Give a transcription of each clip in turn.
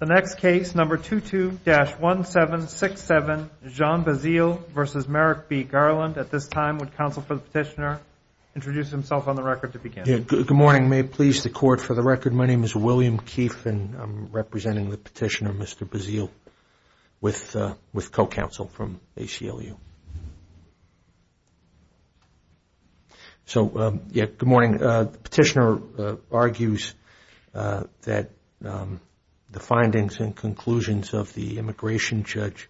The next case, number 22-1767, Jean Bazile v. Merrick B. Garland. At this time, would counsel for the petitioner introduce himself on the record to begin? Good morning. May it please the Court, for the record, my name is William Keefe, and I'm representing the petitioner, Mr. Bazile, with co-counsel from ACLU. So, yeah, good morning. The petitioner argues that the findings and conclusions of the immigration judge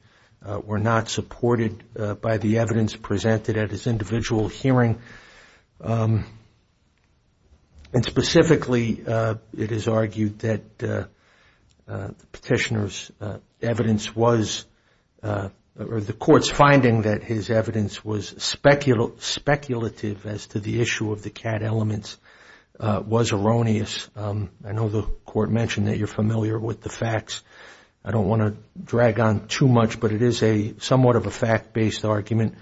were not supported by the evidence presented at his individual hearing. And specifically, it is argued that the petitioner's evidence was, or the Court's finding that his evidence was speculative as to the issue of the CAT elements was erroneous. I know the Court mentioned that you're familiar with the facts. I don't want to drag on too much, but it is somewhat of a fact-based argument.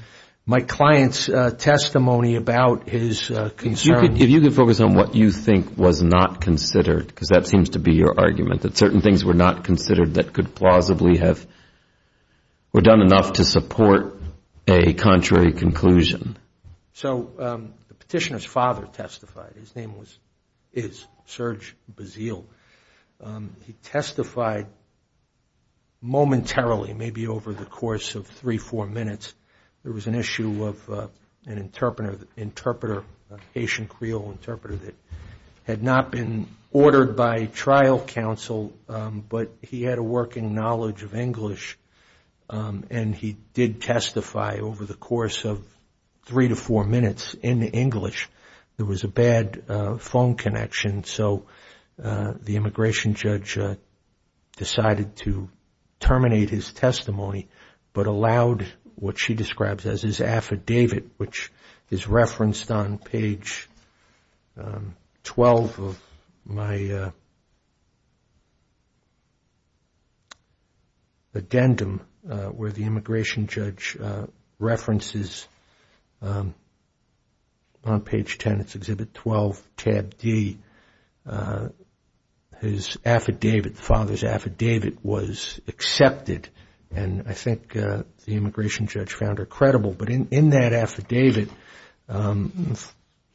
My client's testimony about his concern. If you could focus on what you think was not considered, because that seems to be your argument, that certain things were not considered that could plausibly have, were done enough to support a contrary conclusion. So the petitioner's father testified. His name is Serge Bazile. He testified momentarily, maybe over the course of three, four minutes. There was an issue of an interpreter, a Haitian Creole interpreter that had not been ordered by trial counsel, but he had a working knowledge of English, and he did testify over the course of three to four minutes in English. There was a bad phone connection, so the immigration judge decided to terminate his testimony, but allowed what she describes as his affidavit, which is referenced on page 12 of my addendum, where the immigration judge references, on page 10, it's exhibit 12, tab D, his affidavit, the father's affidavit was accepted, and I think the immigration judge found her credible. But in that affidavit, the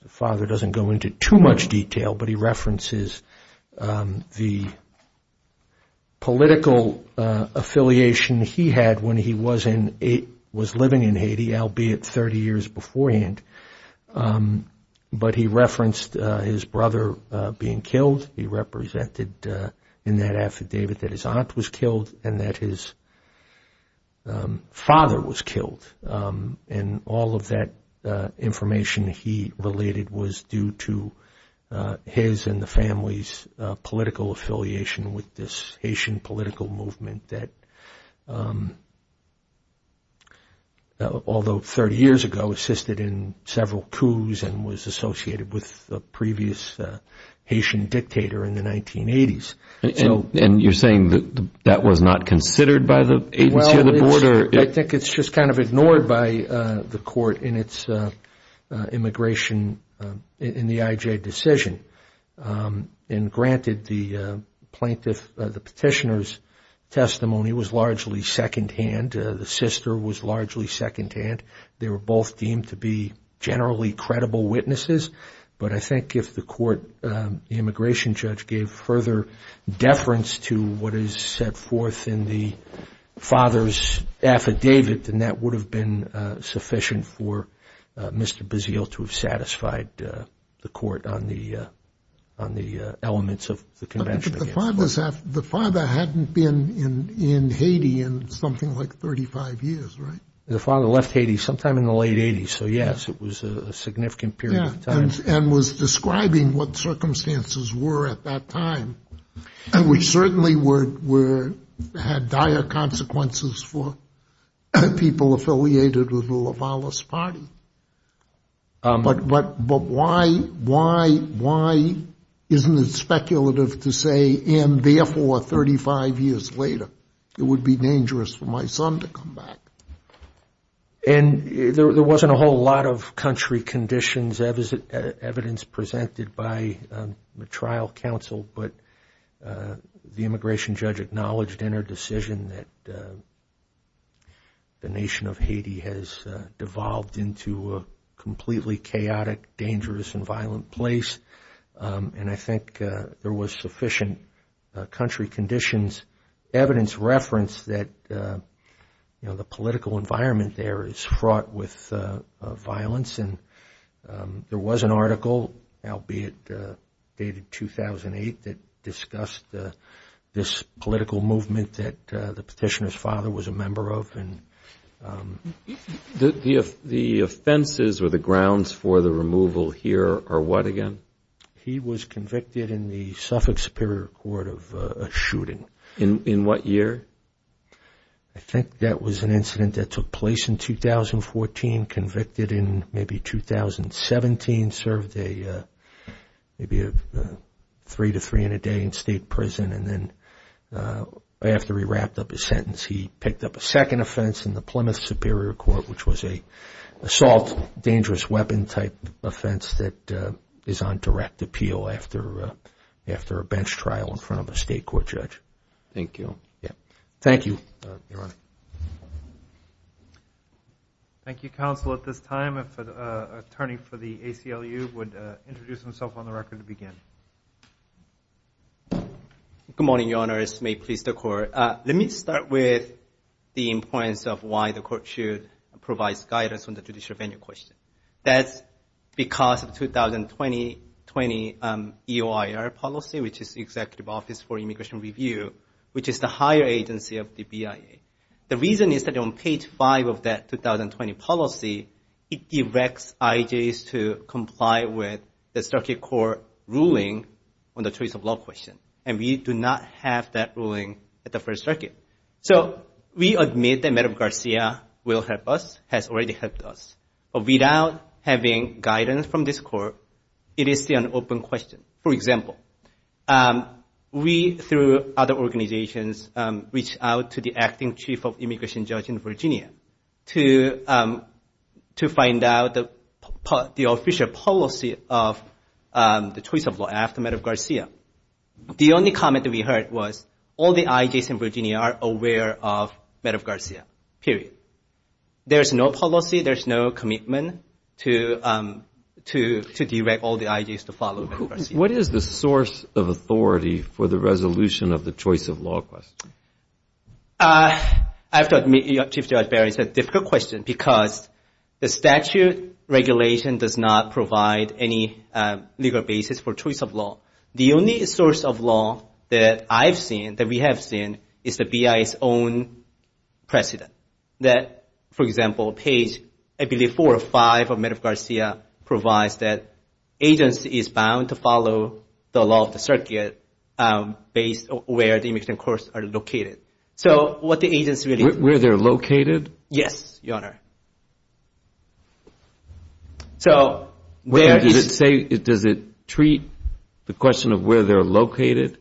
father doesn't go into too much detail, but he references the political affiliation he had when he was living in Haiti, albeit 30 years beforehand, but he referenced his brother being killed. He represented in that affidavit that his aunt was killed, and that his father was killed. And all of that information he related was due to his and the family's political affiliation with this Haitian political movement that, all the while, although 30 years ago, assisted in several coups and was associated with the previous Haitian dictator in the 1980s. And you're saying that that was not considered by the agency or the board? I think it's just kind of ignored by the court in its immigration, in the IJ decision. And granted, the plaintiff, the petitioner's testimony was largely secondhand, the sister was largely secondhand, they were both deemed to be generally credible witnesses, but I think if the immigration judge gave further deference to what is set forth in the father's affidavit, then that would have been sufficient for Mr. Bazille to have satisfied the court on the elements of the convention. The father hadn't been in Haiti in something like 35 years, right? The father left Haiti sometime in the late 80s, so yes, it was a significant period of time. And was describing what circumstances were at that time, which certainly had dire consequences for people affiliated with the Lavalis party. But why isn't it speculative to say, and therefore, 35 years later, it would be dangerous for my son to come back? And there wasn't a whole lot of country conditions, evidence presented by the trial counsel, but the immigration judge acknowledged in her decision that the nation of Haiti has devolved into a completely chaotic, dangerous, and violent place, and I think there was sufficient country conditions, evidence referenced that the political environment there is fraught with violence. And there was an article, albeit dated 2008, that discussed this political movement that the petitioner's father was a member of. The offenses or the grounds for the removal here are what again? He was convicted in the Suffolk Superior Court of a shooting. In what year? I think that was an incident that took place in 2014, convicted in maybe 2017, served maybe three to three in a day in state prison, and then after he wrapped up his sentence, he picked up a second offense in the Plymouth Superior Court, which was an assault, dangerous weapon type offense that is on direct appeal after a bench trial in front of a state court judge. Thank you. Thank you, counsel. At this time, if the attorney for the ACLU would introduce himself on the record to begin. Good morning, your honors. May it please the court. Let me start with the importance of why the court should provide guidance on the judicial venue question. That's because of 2020 EOIR policy, which is the Executive Office for Immigration Review, which is the higher agency of the BIA. The reason is that on page five of that 2020 policy, it directs IJs to comply with the circuit court ruling on the choice of law question, and we do not have that ruling at the first circuit. So we admit that Madam Garcia will help us, has already helped us, but without having guidance from this court, it is still an open question. For example, we through other organizations reach out to the acting chief of immigration judge in Virginia to find out the official policy of the choice of law after Madam Garcia. The only comment that we heard was all the IJs in Virginia are aware of Madam Garcia, period. There's no policy, there's no commitment to direct all the IJs to follow Madam Garcia. What is the source of authority for the resolution of the choice of law question? I have to admit, Chief Judge Barry, it's a difficult question because the statute regulation does not provide any legal basis for choice of law. The only source of law is the choice of law. The only source of law that I've seen, that we have seen, is the BI's own precedent. For example, page four or five of Madam Garcia provides that agency is bound to follow the law of the circuit based on where the immigration courts are located. Where they're located? Yes, Your Honor. Does it treat the question of where they're located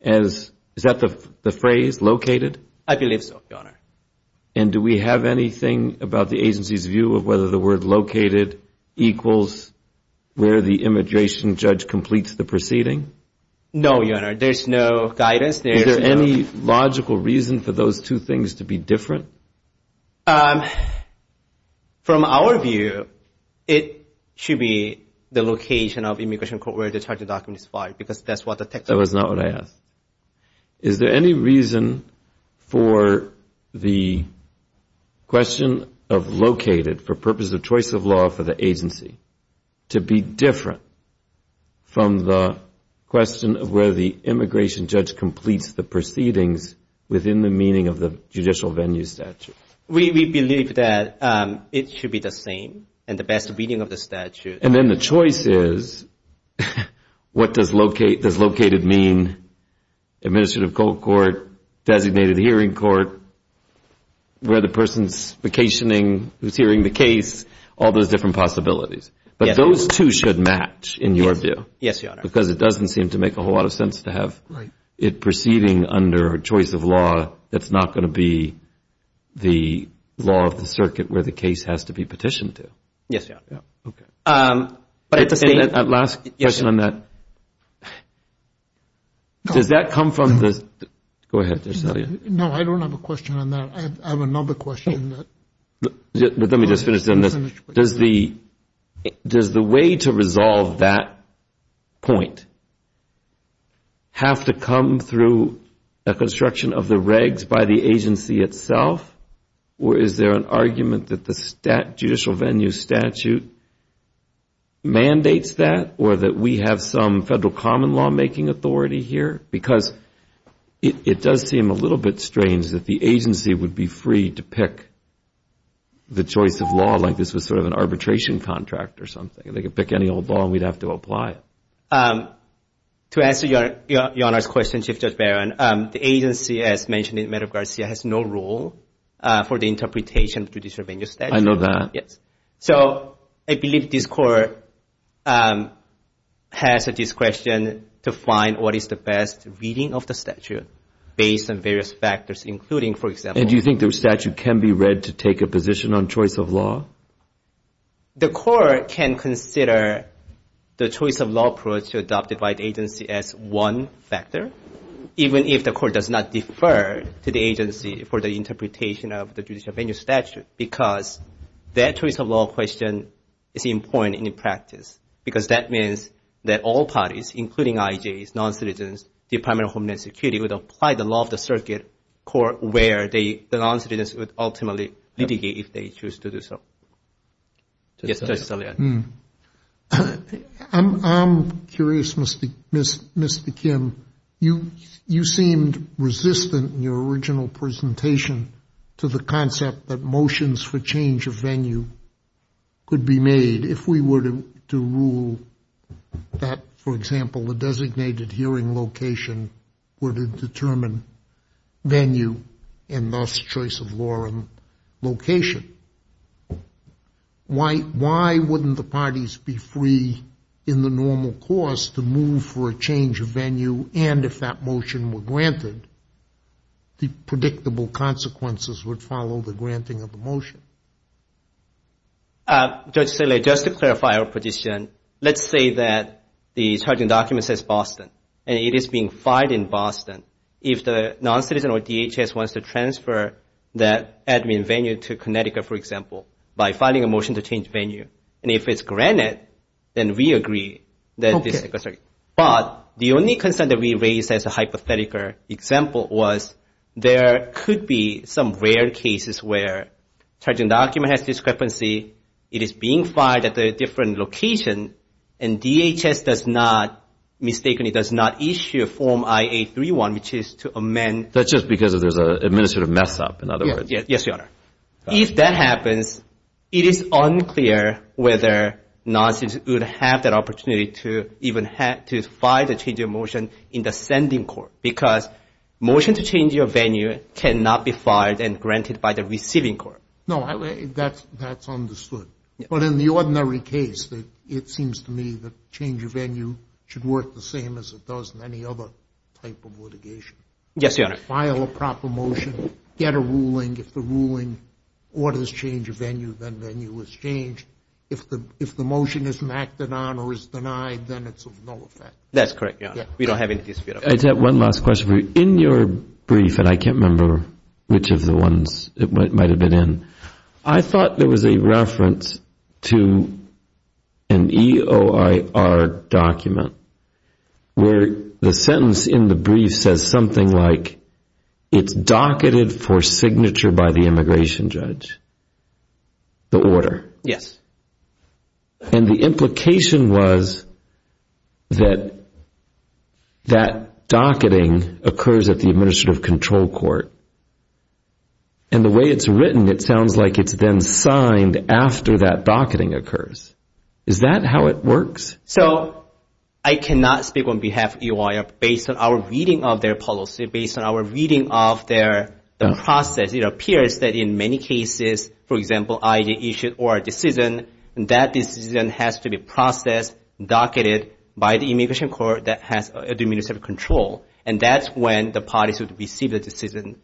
as, is that the phrase, located? I believe so, Your Honor. And do we have anything about the agency's view of whether the word located equals where the immigration judge completes the proceeding? No, Your Honor. There's no guidance there. Is there any logical reason for those two things to be different? From our view, it should be the location of immigration court where the charging document is filed because that's what the text of it is. That was not what I asked. Is there any reason for the question of located for purpose of choice of law for the agency to be different from the question of where the immigration judge completes the proceedings within the meaning of the judicial venue statute? We believe that it should be the same and the best reading of the statute. And then the choice is, what does located mean? Administrative cold court, designated hearing court, where the person's vacationing, who's hearing the case, all those different possibilities. But those two should match in your view because it doesn't seem to make a whole lot of sense to have it proceeding under choice of law that's not going to be the law of the circuit where the case has to be petitioned to. Does that come from the... No, I don't have a question on that. I have another question. Let me just finish on this. Does the way to resolve that point have to come through a construction of the regs by the agency itself? Or is there an argument that the judicial venue statute mandates that? Or that we have some federal common lawmaking authority here? Because it does seem a little bit strange that the agency would be free to pick the choice of law like this was sort of an arbitration contract or something. They could pick any old law and we'd have to apply it. To answer your question, Chief Judge Barron, the agency as mentioned in Medgar Garcia has no rule for the interpretation of judicial venue statute. I know that. So I believe this court has a discretion to find what is the best reading of the statute based on various factors including, for example... And do you think the statute can be read to take a position on choice of law? The court can consider the choice of law approach adopted by the agency as one factor. Even if the court does not defer to the agency for the interpretation of the judicial venue statute. Because that choice of law question is important in practice. Because that means that all parties including IJs, non-citizens, Department of Homeland Security would apply the law of the circuit court where the non-citizens would ultimately litigate if they choose to do so. I'm curious, Mr. Kim. You seemed resistant in your original presentation to the concept that motions for change of venue could be made if we were to rule that, for example, the designated hearing location would determine venue and thus choice of law and location. Why wouldn't the parties be free in the normal course to move for a change of venue? And if that motion were granted, the predictable consequences would follow the granting of the motion. Just to clarify our position, let's say that the charging document says Boston. If the non-citizen or DHS wants to transfer that admin venue to Connecticut, for example, by filing a motion to change venue. And if it's granted, then we agree. But the only concern that we raised as a hypothetical example was there could be some rare cases where charging document has discrepancy. It is being filed at a different location. And DHS does not, mistakenly, does not issue Form I-831, which is to amend. That's just because there's an administrative mess up, in other words. Yes, Your Honor. If that happens, it is unclear whether non-citizens would have that opportunity to even file the change of motion in the sending court. Because motion to change your venue cannot be filed and granted by the receiving court. No, that's understood. But in the ordinary case, it seems to me that change of venue should work the same as it does in any other type of litigation. Yes, Your Honor. File a proper motion, get a ruling. If the ruling orders change of venue, then venue is changed. If the motion isn't acted on or is denied, then it's of no effect. That's correct, Your Honor. We don't have any dispute about that. I just have one last question for you. In your brief, and I can't remember which of the ones it might have been in, I thought there was a reference to an EOIR document where the sentence in the brief says something like, it's docketed for signature by the immigration judge, the order. Yes. And the implication was that that docketing occurs at the administrative control court. And the way it's written, it sounds like it's been signed after that docketing occurs. Is that how it works? So I cannot speak on behalf of EOIR based on our reading of their policy, based on our reading of their process. It appears that in many cases, for example, either issue or a decision, that decision has to be processed, docketed by the immigration court that has the administrative control. And that's when the parties would receive the decision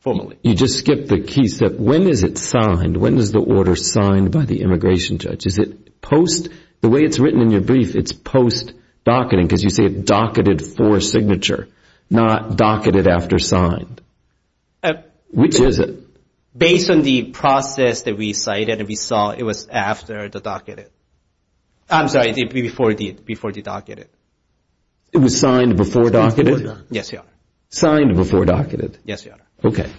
formally. You just skipped the key step. When is it signed? When is the order signed by the immigration judge? Is it post? The way it's written in your brief, it's post docketing because you say docketed for signature, not docketed after signed. Which is it? Based on the process that we cited, we saw it was after the docketed. I'm sorry, before the docketed. It was signed before docketed? Yes, Your Honor. Signed before docketed? Yes, Your Honor. Okay.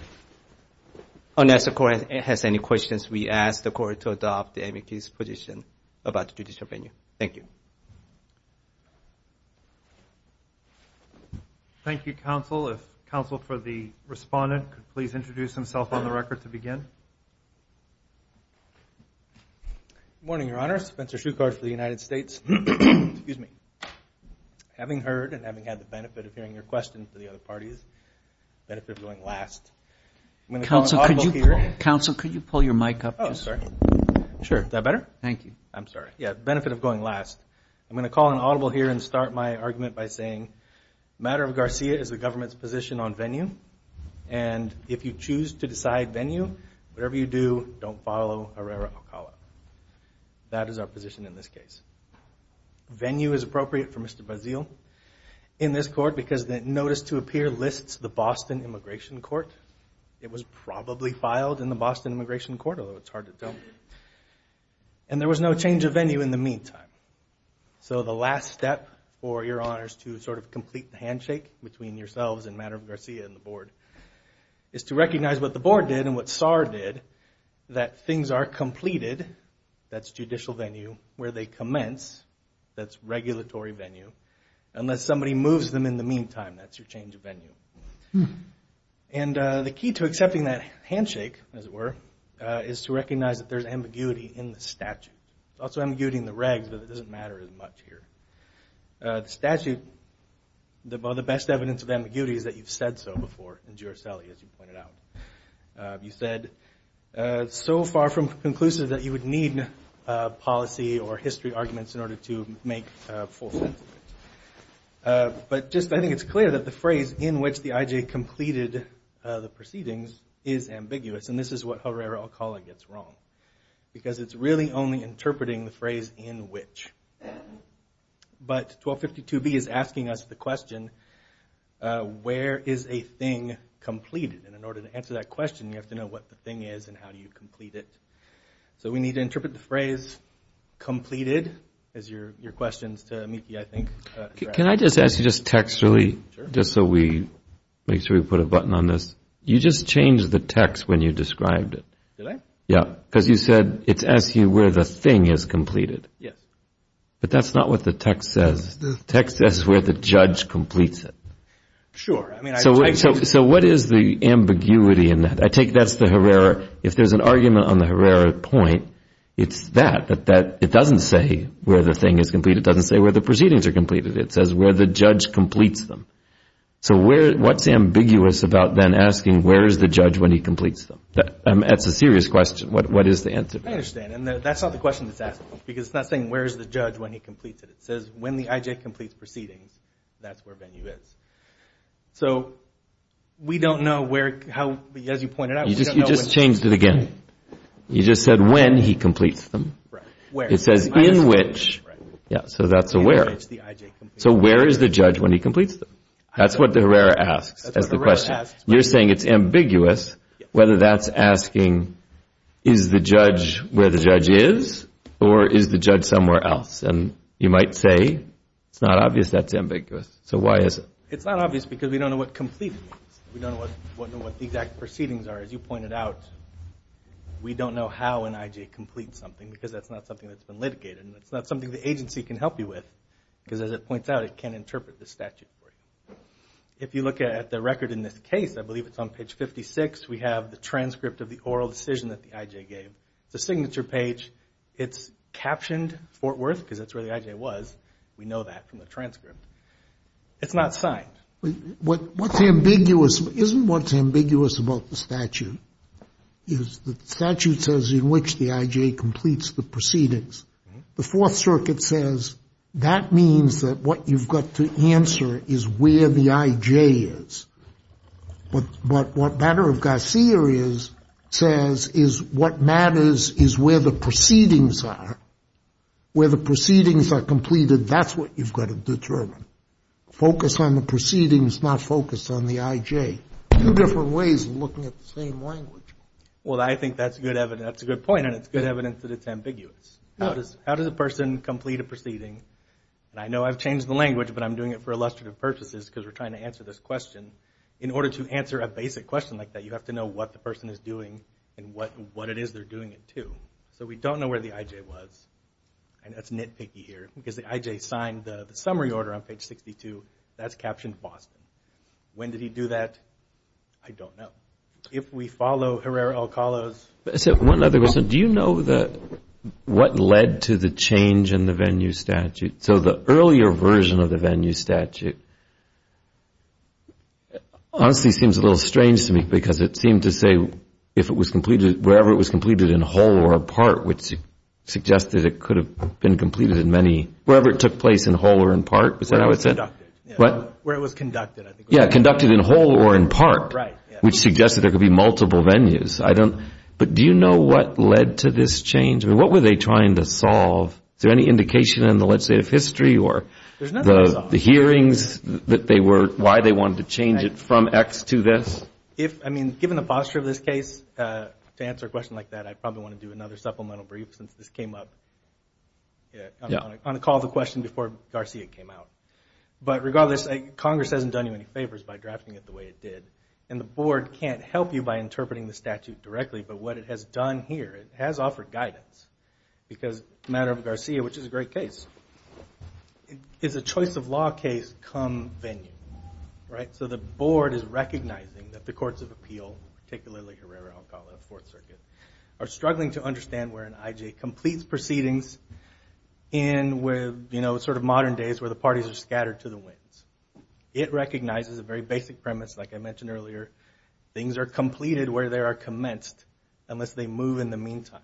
Unless the Court has any questions, we ask the Court to adopt the amicus position about judicial venue. Thank you. Thank you, Counsel. If Counsel for the Respondent could please introduce himself on the record to begin. The benefit of going last. Counsel, could you pull your mic up? The benefit of going last. I'm going to call an audible here and start my argument by saying, the matter of Garcia is the government's position on venue. And if you choose to decide venue, whatever you do, don't follow Herrera Ocala. That is our position in this case. Venue is appropriate for Mr. Bazille in this court because the notice to appear lists the Boston Immigration Court. It was probably filed in the Boston Immigration Court, although it's hard to tell. And there was no change of venue in the meantime. So the last step for Your Honors to sort of complete the handshake between yourselves and the matter of Garcia and the Board is to recognize what the Board did and what SAR did, that things are completed, that's judicial venue, where they commence, that's regulatory venue, unless somebody moves them in the meantime, that's your change of venue. And the key to accepting that handshake, as it were, is to recognize that there's ambiguity in the statute. There's also ambiguity in the regs, but it doesn't matter as much here. The statute, the best evidence of ambiguity is that you've said so before in Giuselli, as you pointed out. You said, so far from conclusive that you would need policy or history arguments in order to make full sense of it. But just, I think it's clear that the phrase, in which the IJ completed the proceedings, is ambiguous, and this is what Herrera Ocala gets wrong, because it's really only interpreting the phrase, in which. But 1252B is asking us the question, where is a thing completed? And in order to answer that question, you have to know what the thing is and how do you complete it. So we need to interpret the phrase, completed, as your questions to Miki, I think. Can I just ask you, just textually, just so we make sure we put a button on this. You just changed the text when you described it. Did I? Yeah. Because you said it's asking where the thing is completed. Yes. But that's not what the text says. The text says where the judge completes it. Sure. So what is the ambiguity in that? I take that's the Herrera. If there's an argument on the Herrera point, it's that. It doesn't say where the thing is completed. It doesn't say where the proceedings are completed. It says where the judge completes them. So what's ambiguous about then asking where is the judge when he completes them? That's a serious question. What is the answer? I understand. And that's not the question that's asked. Because it's not saying where is the judge when he completes it. It says when the IJ completes proceedings, that's where venue is. So we don't know where, as you pointed out. You just changed it again. You just said when he completes them. Right. Where? It says in which. Yeah. So that's a where. So where is the judge when he completes them? That's what the Herrera asks as the question. You're saying it's ambiguous whether that's asking is the judge where the judge is or is the judge somewhere else? And you might say it's not obvious that's ambiguous. So why is it? It's not obvious because we don't know what complete means. We don't know what the exact proceedings are. As you pointed out, we don't know how an IJ completes something because that's not something that's been litigated. And it's not something the agency can help you with because, as it points out, it can't interpret the statute for you. If you look at the record in this case, I believe it's on page 56, we have the transcript of the oral decision that the IJ gave. It's a signature page. It's captioned Fort Worth because that's where the IJ was. We know that from the transcript. It's not signed. What's ambiguous isn't what's ambiguous about the statute. The statute says in which the IJ completes the proceedings. The Fourth Circuit says that means that what you've got to answer is where the IJ is. But what matter of Garcia says is what matters is where the proceedings are. Where the proceedings are completed, that's what you've got to determine. Focus on the proceedings, not focus on the IJ. Two different ways of looking at the same language. Well, I think that's a good point, and it's good evidence that it's ambiguous. How does a person complete a proceeding? And I know I've changed the language, but I'm doing it for illustrative purposes because we're trying to answer this question. In order to answer a basic question like that, you have to know what the person is doing and what it is they're doing it to. So we don't know where the IJ was, and that's nitpicky here because the IJ signed the summary order on page 62. That's captioned Boston. When did he do that? I don't know. If we follow Herrera-Alcala's... One other question. Do you know what led to the change in the venue statute? So the earlier version of the venue statute honestly seems a little strange to me because it seemed to say that wherever it was completed in whole or in part, which suggested it could have been completed in many... Wherever it took place in whole or in part, is that how it said? Where it was conducted, I think. Yeah, conducted in whole or in part, which suggested there could be multiple venues. But do you know what led to this change? I mean, what were they trying to solve? Is there any indication in the legislative history or the hearings that they were... Why they wanted to change it from X to this? Given the posture of this case, to answer a question like that, I probably want to do another supplemental brief since this came up. I'm going to call the question before Garcia came out. But regardless, Congress hasn't done you any favors by drafting it the way it did. And the board can't help you by interpreting the statute directly, but what it has done here, it has offered guidance. Because the matter of Garcia, which is a great case, is a choice of law case come venue. So the board is recognizing that the courts of appeal, particularly Herrera, Alcala, Fourth Circuit, are struggling to understand where an IJ completes proceedings in modern days where the parties are scattered to the winds. It recognizes a very basic premise, like I mentioned earlier. Things are completed where they are commenced unless they move in the meantime.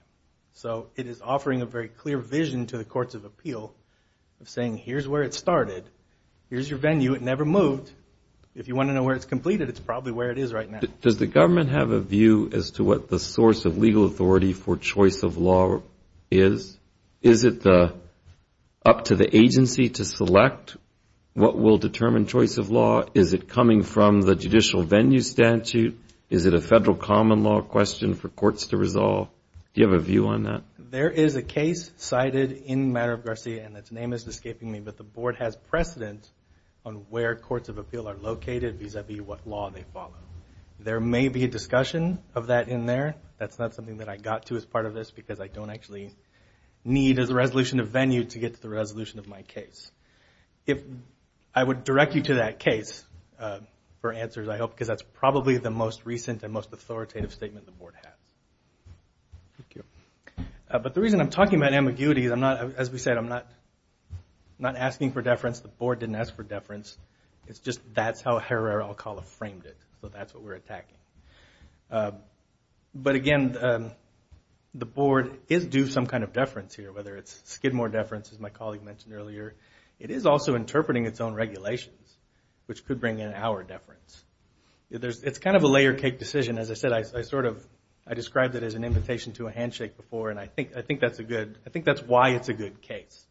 So it is offering a very clear vision to the courts of appeal of saying, here's where it started, here's your venue, it never moved. If you want to know where it's completed, it's probably where it is right now. Does the government have a view as to what the source of legal authority for choice of law is? Is it up to the agency to select what will determine choice of law? Is it coming from the judicial venue statute? Is it a federal common law question for courts to resolve? Do you have a view on that? There is a case cited in matter of Garcia, and its name is escaping me, but the board has precedent on where courts of appeal are located vis-a-vis what law they follow. There may be a discussion of that in there. That's not something that I got to as part of this because I don't actually need as a resolution of venue to get to the resolution of my case. I would direct you to that case for answers, I hope, because that's probably the most recent and most authoritative statement the board has. But the reason I'm talking about ambiguity is, as we said, I'm not asking for deference. The board didn't ask for deference. It's just that's how Herrera-Alcala framed it, so that's what we're attacking. But again, the board is due some kind of deference here, whether it's Skidmore deference, as my colleague mentioned earlier. It is also interpreting its own regulations, which could bring in our deference. It's kind of a layer cake decision. As I said, I described it as an invitation to a handshake before. I think that's why it's a good case.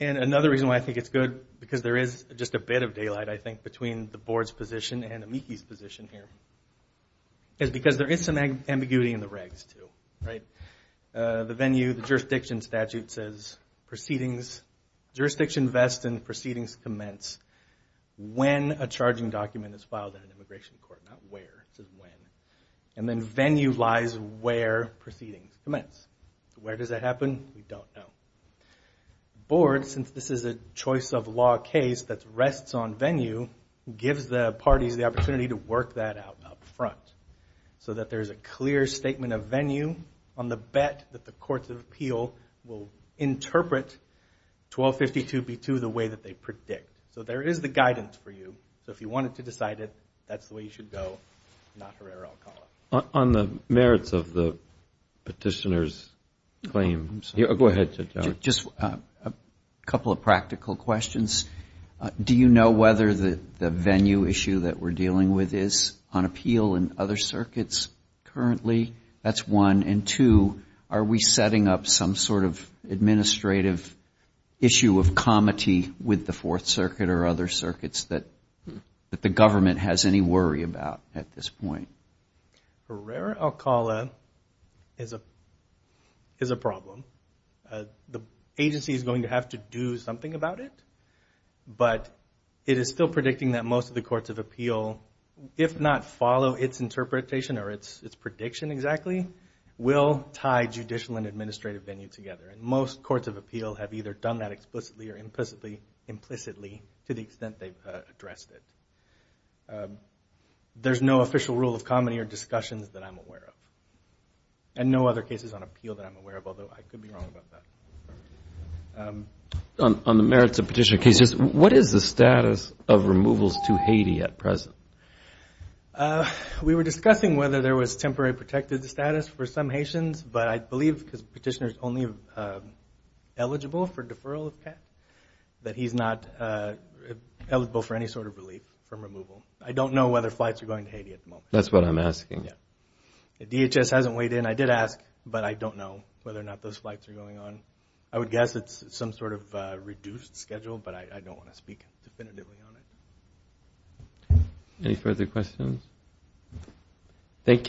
Another reason why I think it's good, because there is just a bit of daylight, I think, between the board's position and Amiki's position here, is because there is some ambiguity in the regs, too. The venue, the jurisdiction statute says, jurisdiction vests and proceedings commence when a charging document is filed at an immigration court, not where. It says when. And then venue lies where proceedings commence. Where does that happen? We don't know. The board, since this is a choice of law case that rests on venue, gives the parties the opportunity to work that out up front, so that there is a clear statement of venue on the bet that the courts of appeal will interpret 1252B2 the way that they predict. So there is the guidance for you. So if you wanted to decide it, that's the way you should go, not Herrera-Alcala. On the merits of the petitioner's claim. Go ahead. Just a couple of practical questions. Do you know whether the venue issue that we're dealing with is on appeal in other circuits currently? That's one. And two, are we setting up some sort of administrative issue of comity with the Fourth Circuit or other circuits that the government has any worry about at this point? Herrera-Alcala is a problem. The agency is going to have to do something about it, but it is still predicting that most of the courts of appeal, if not follow its interpretation or its prediction exactly, will tie judicial and administrative venue together. And most courts of appeal have either done that explicitly or implicitly to the extent they've addressed it. There's no official rule of comity or discussions that I'm aware of. And no other cases on appeal that I'm aware of, although I could be wrong about that. On the merits of petitioner cases, what is the status of removals to Haiti at present? We were discussing whether there was temporary protected status for some Haitians, but I believe because the petitioner is only eligible for deferral, that he's not eligible for any sort of relief from removal. I don't know whether flights are going to Haiti at the moment. That's what I'm asking. DHS hasn't weighed in. I did ask, but I don't know whether or not those flights are going on. I would guess it's some sort of reduced schedule, but I don't want to speak definitively on it. Any further questions? Thank you.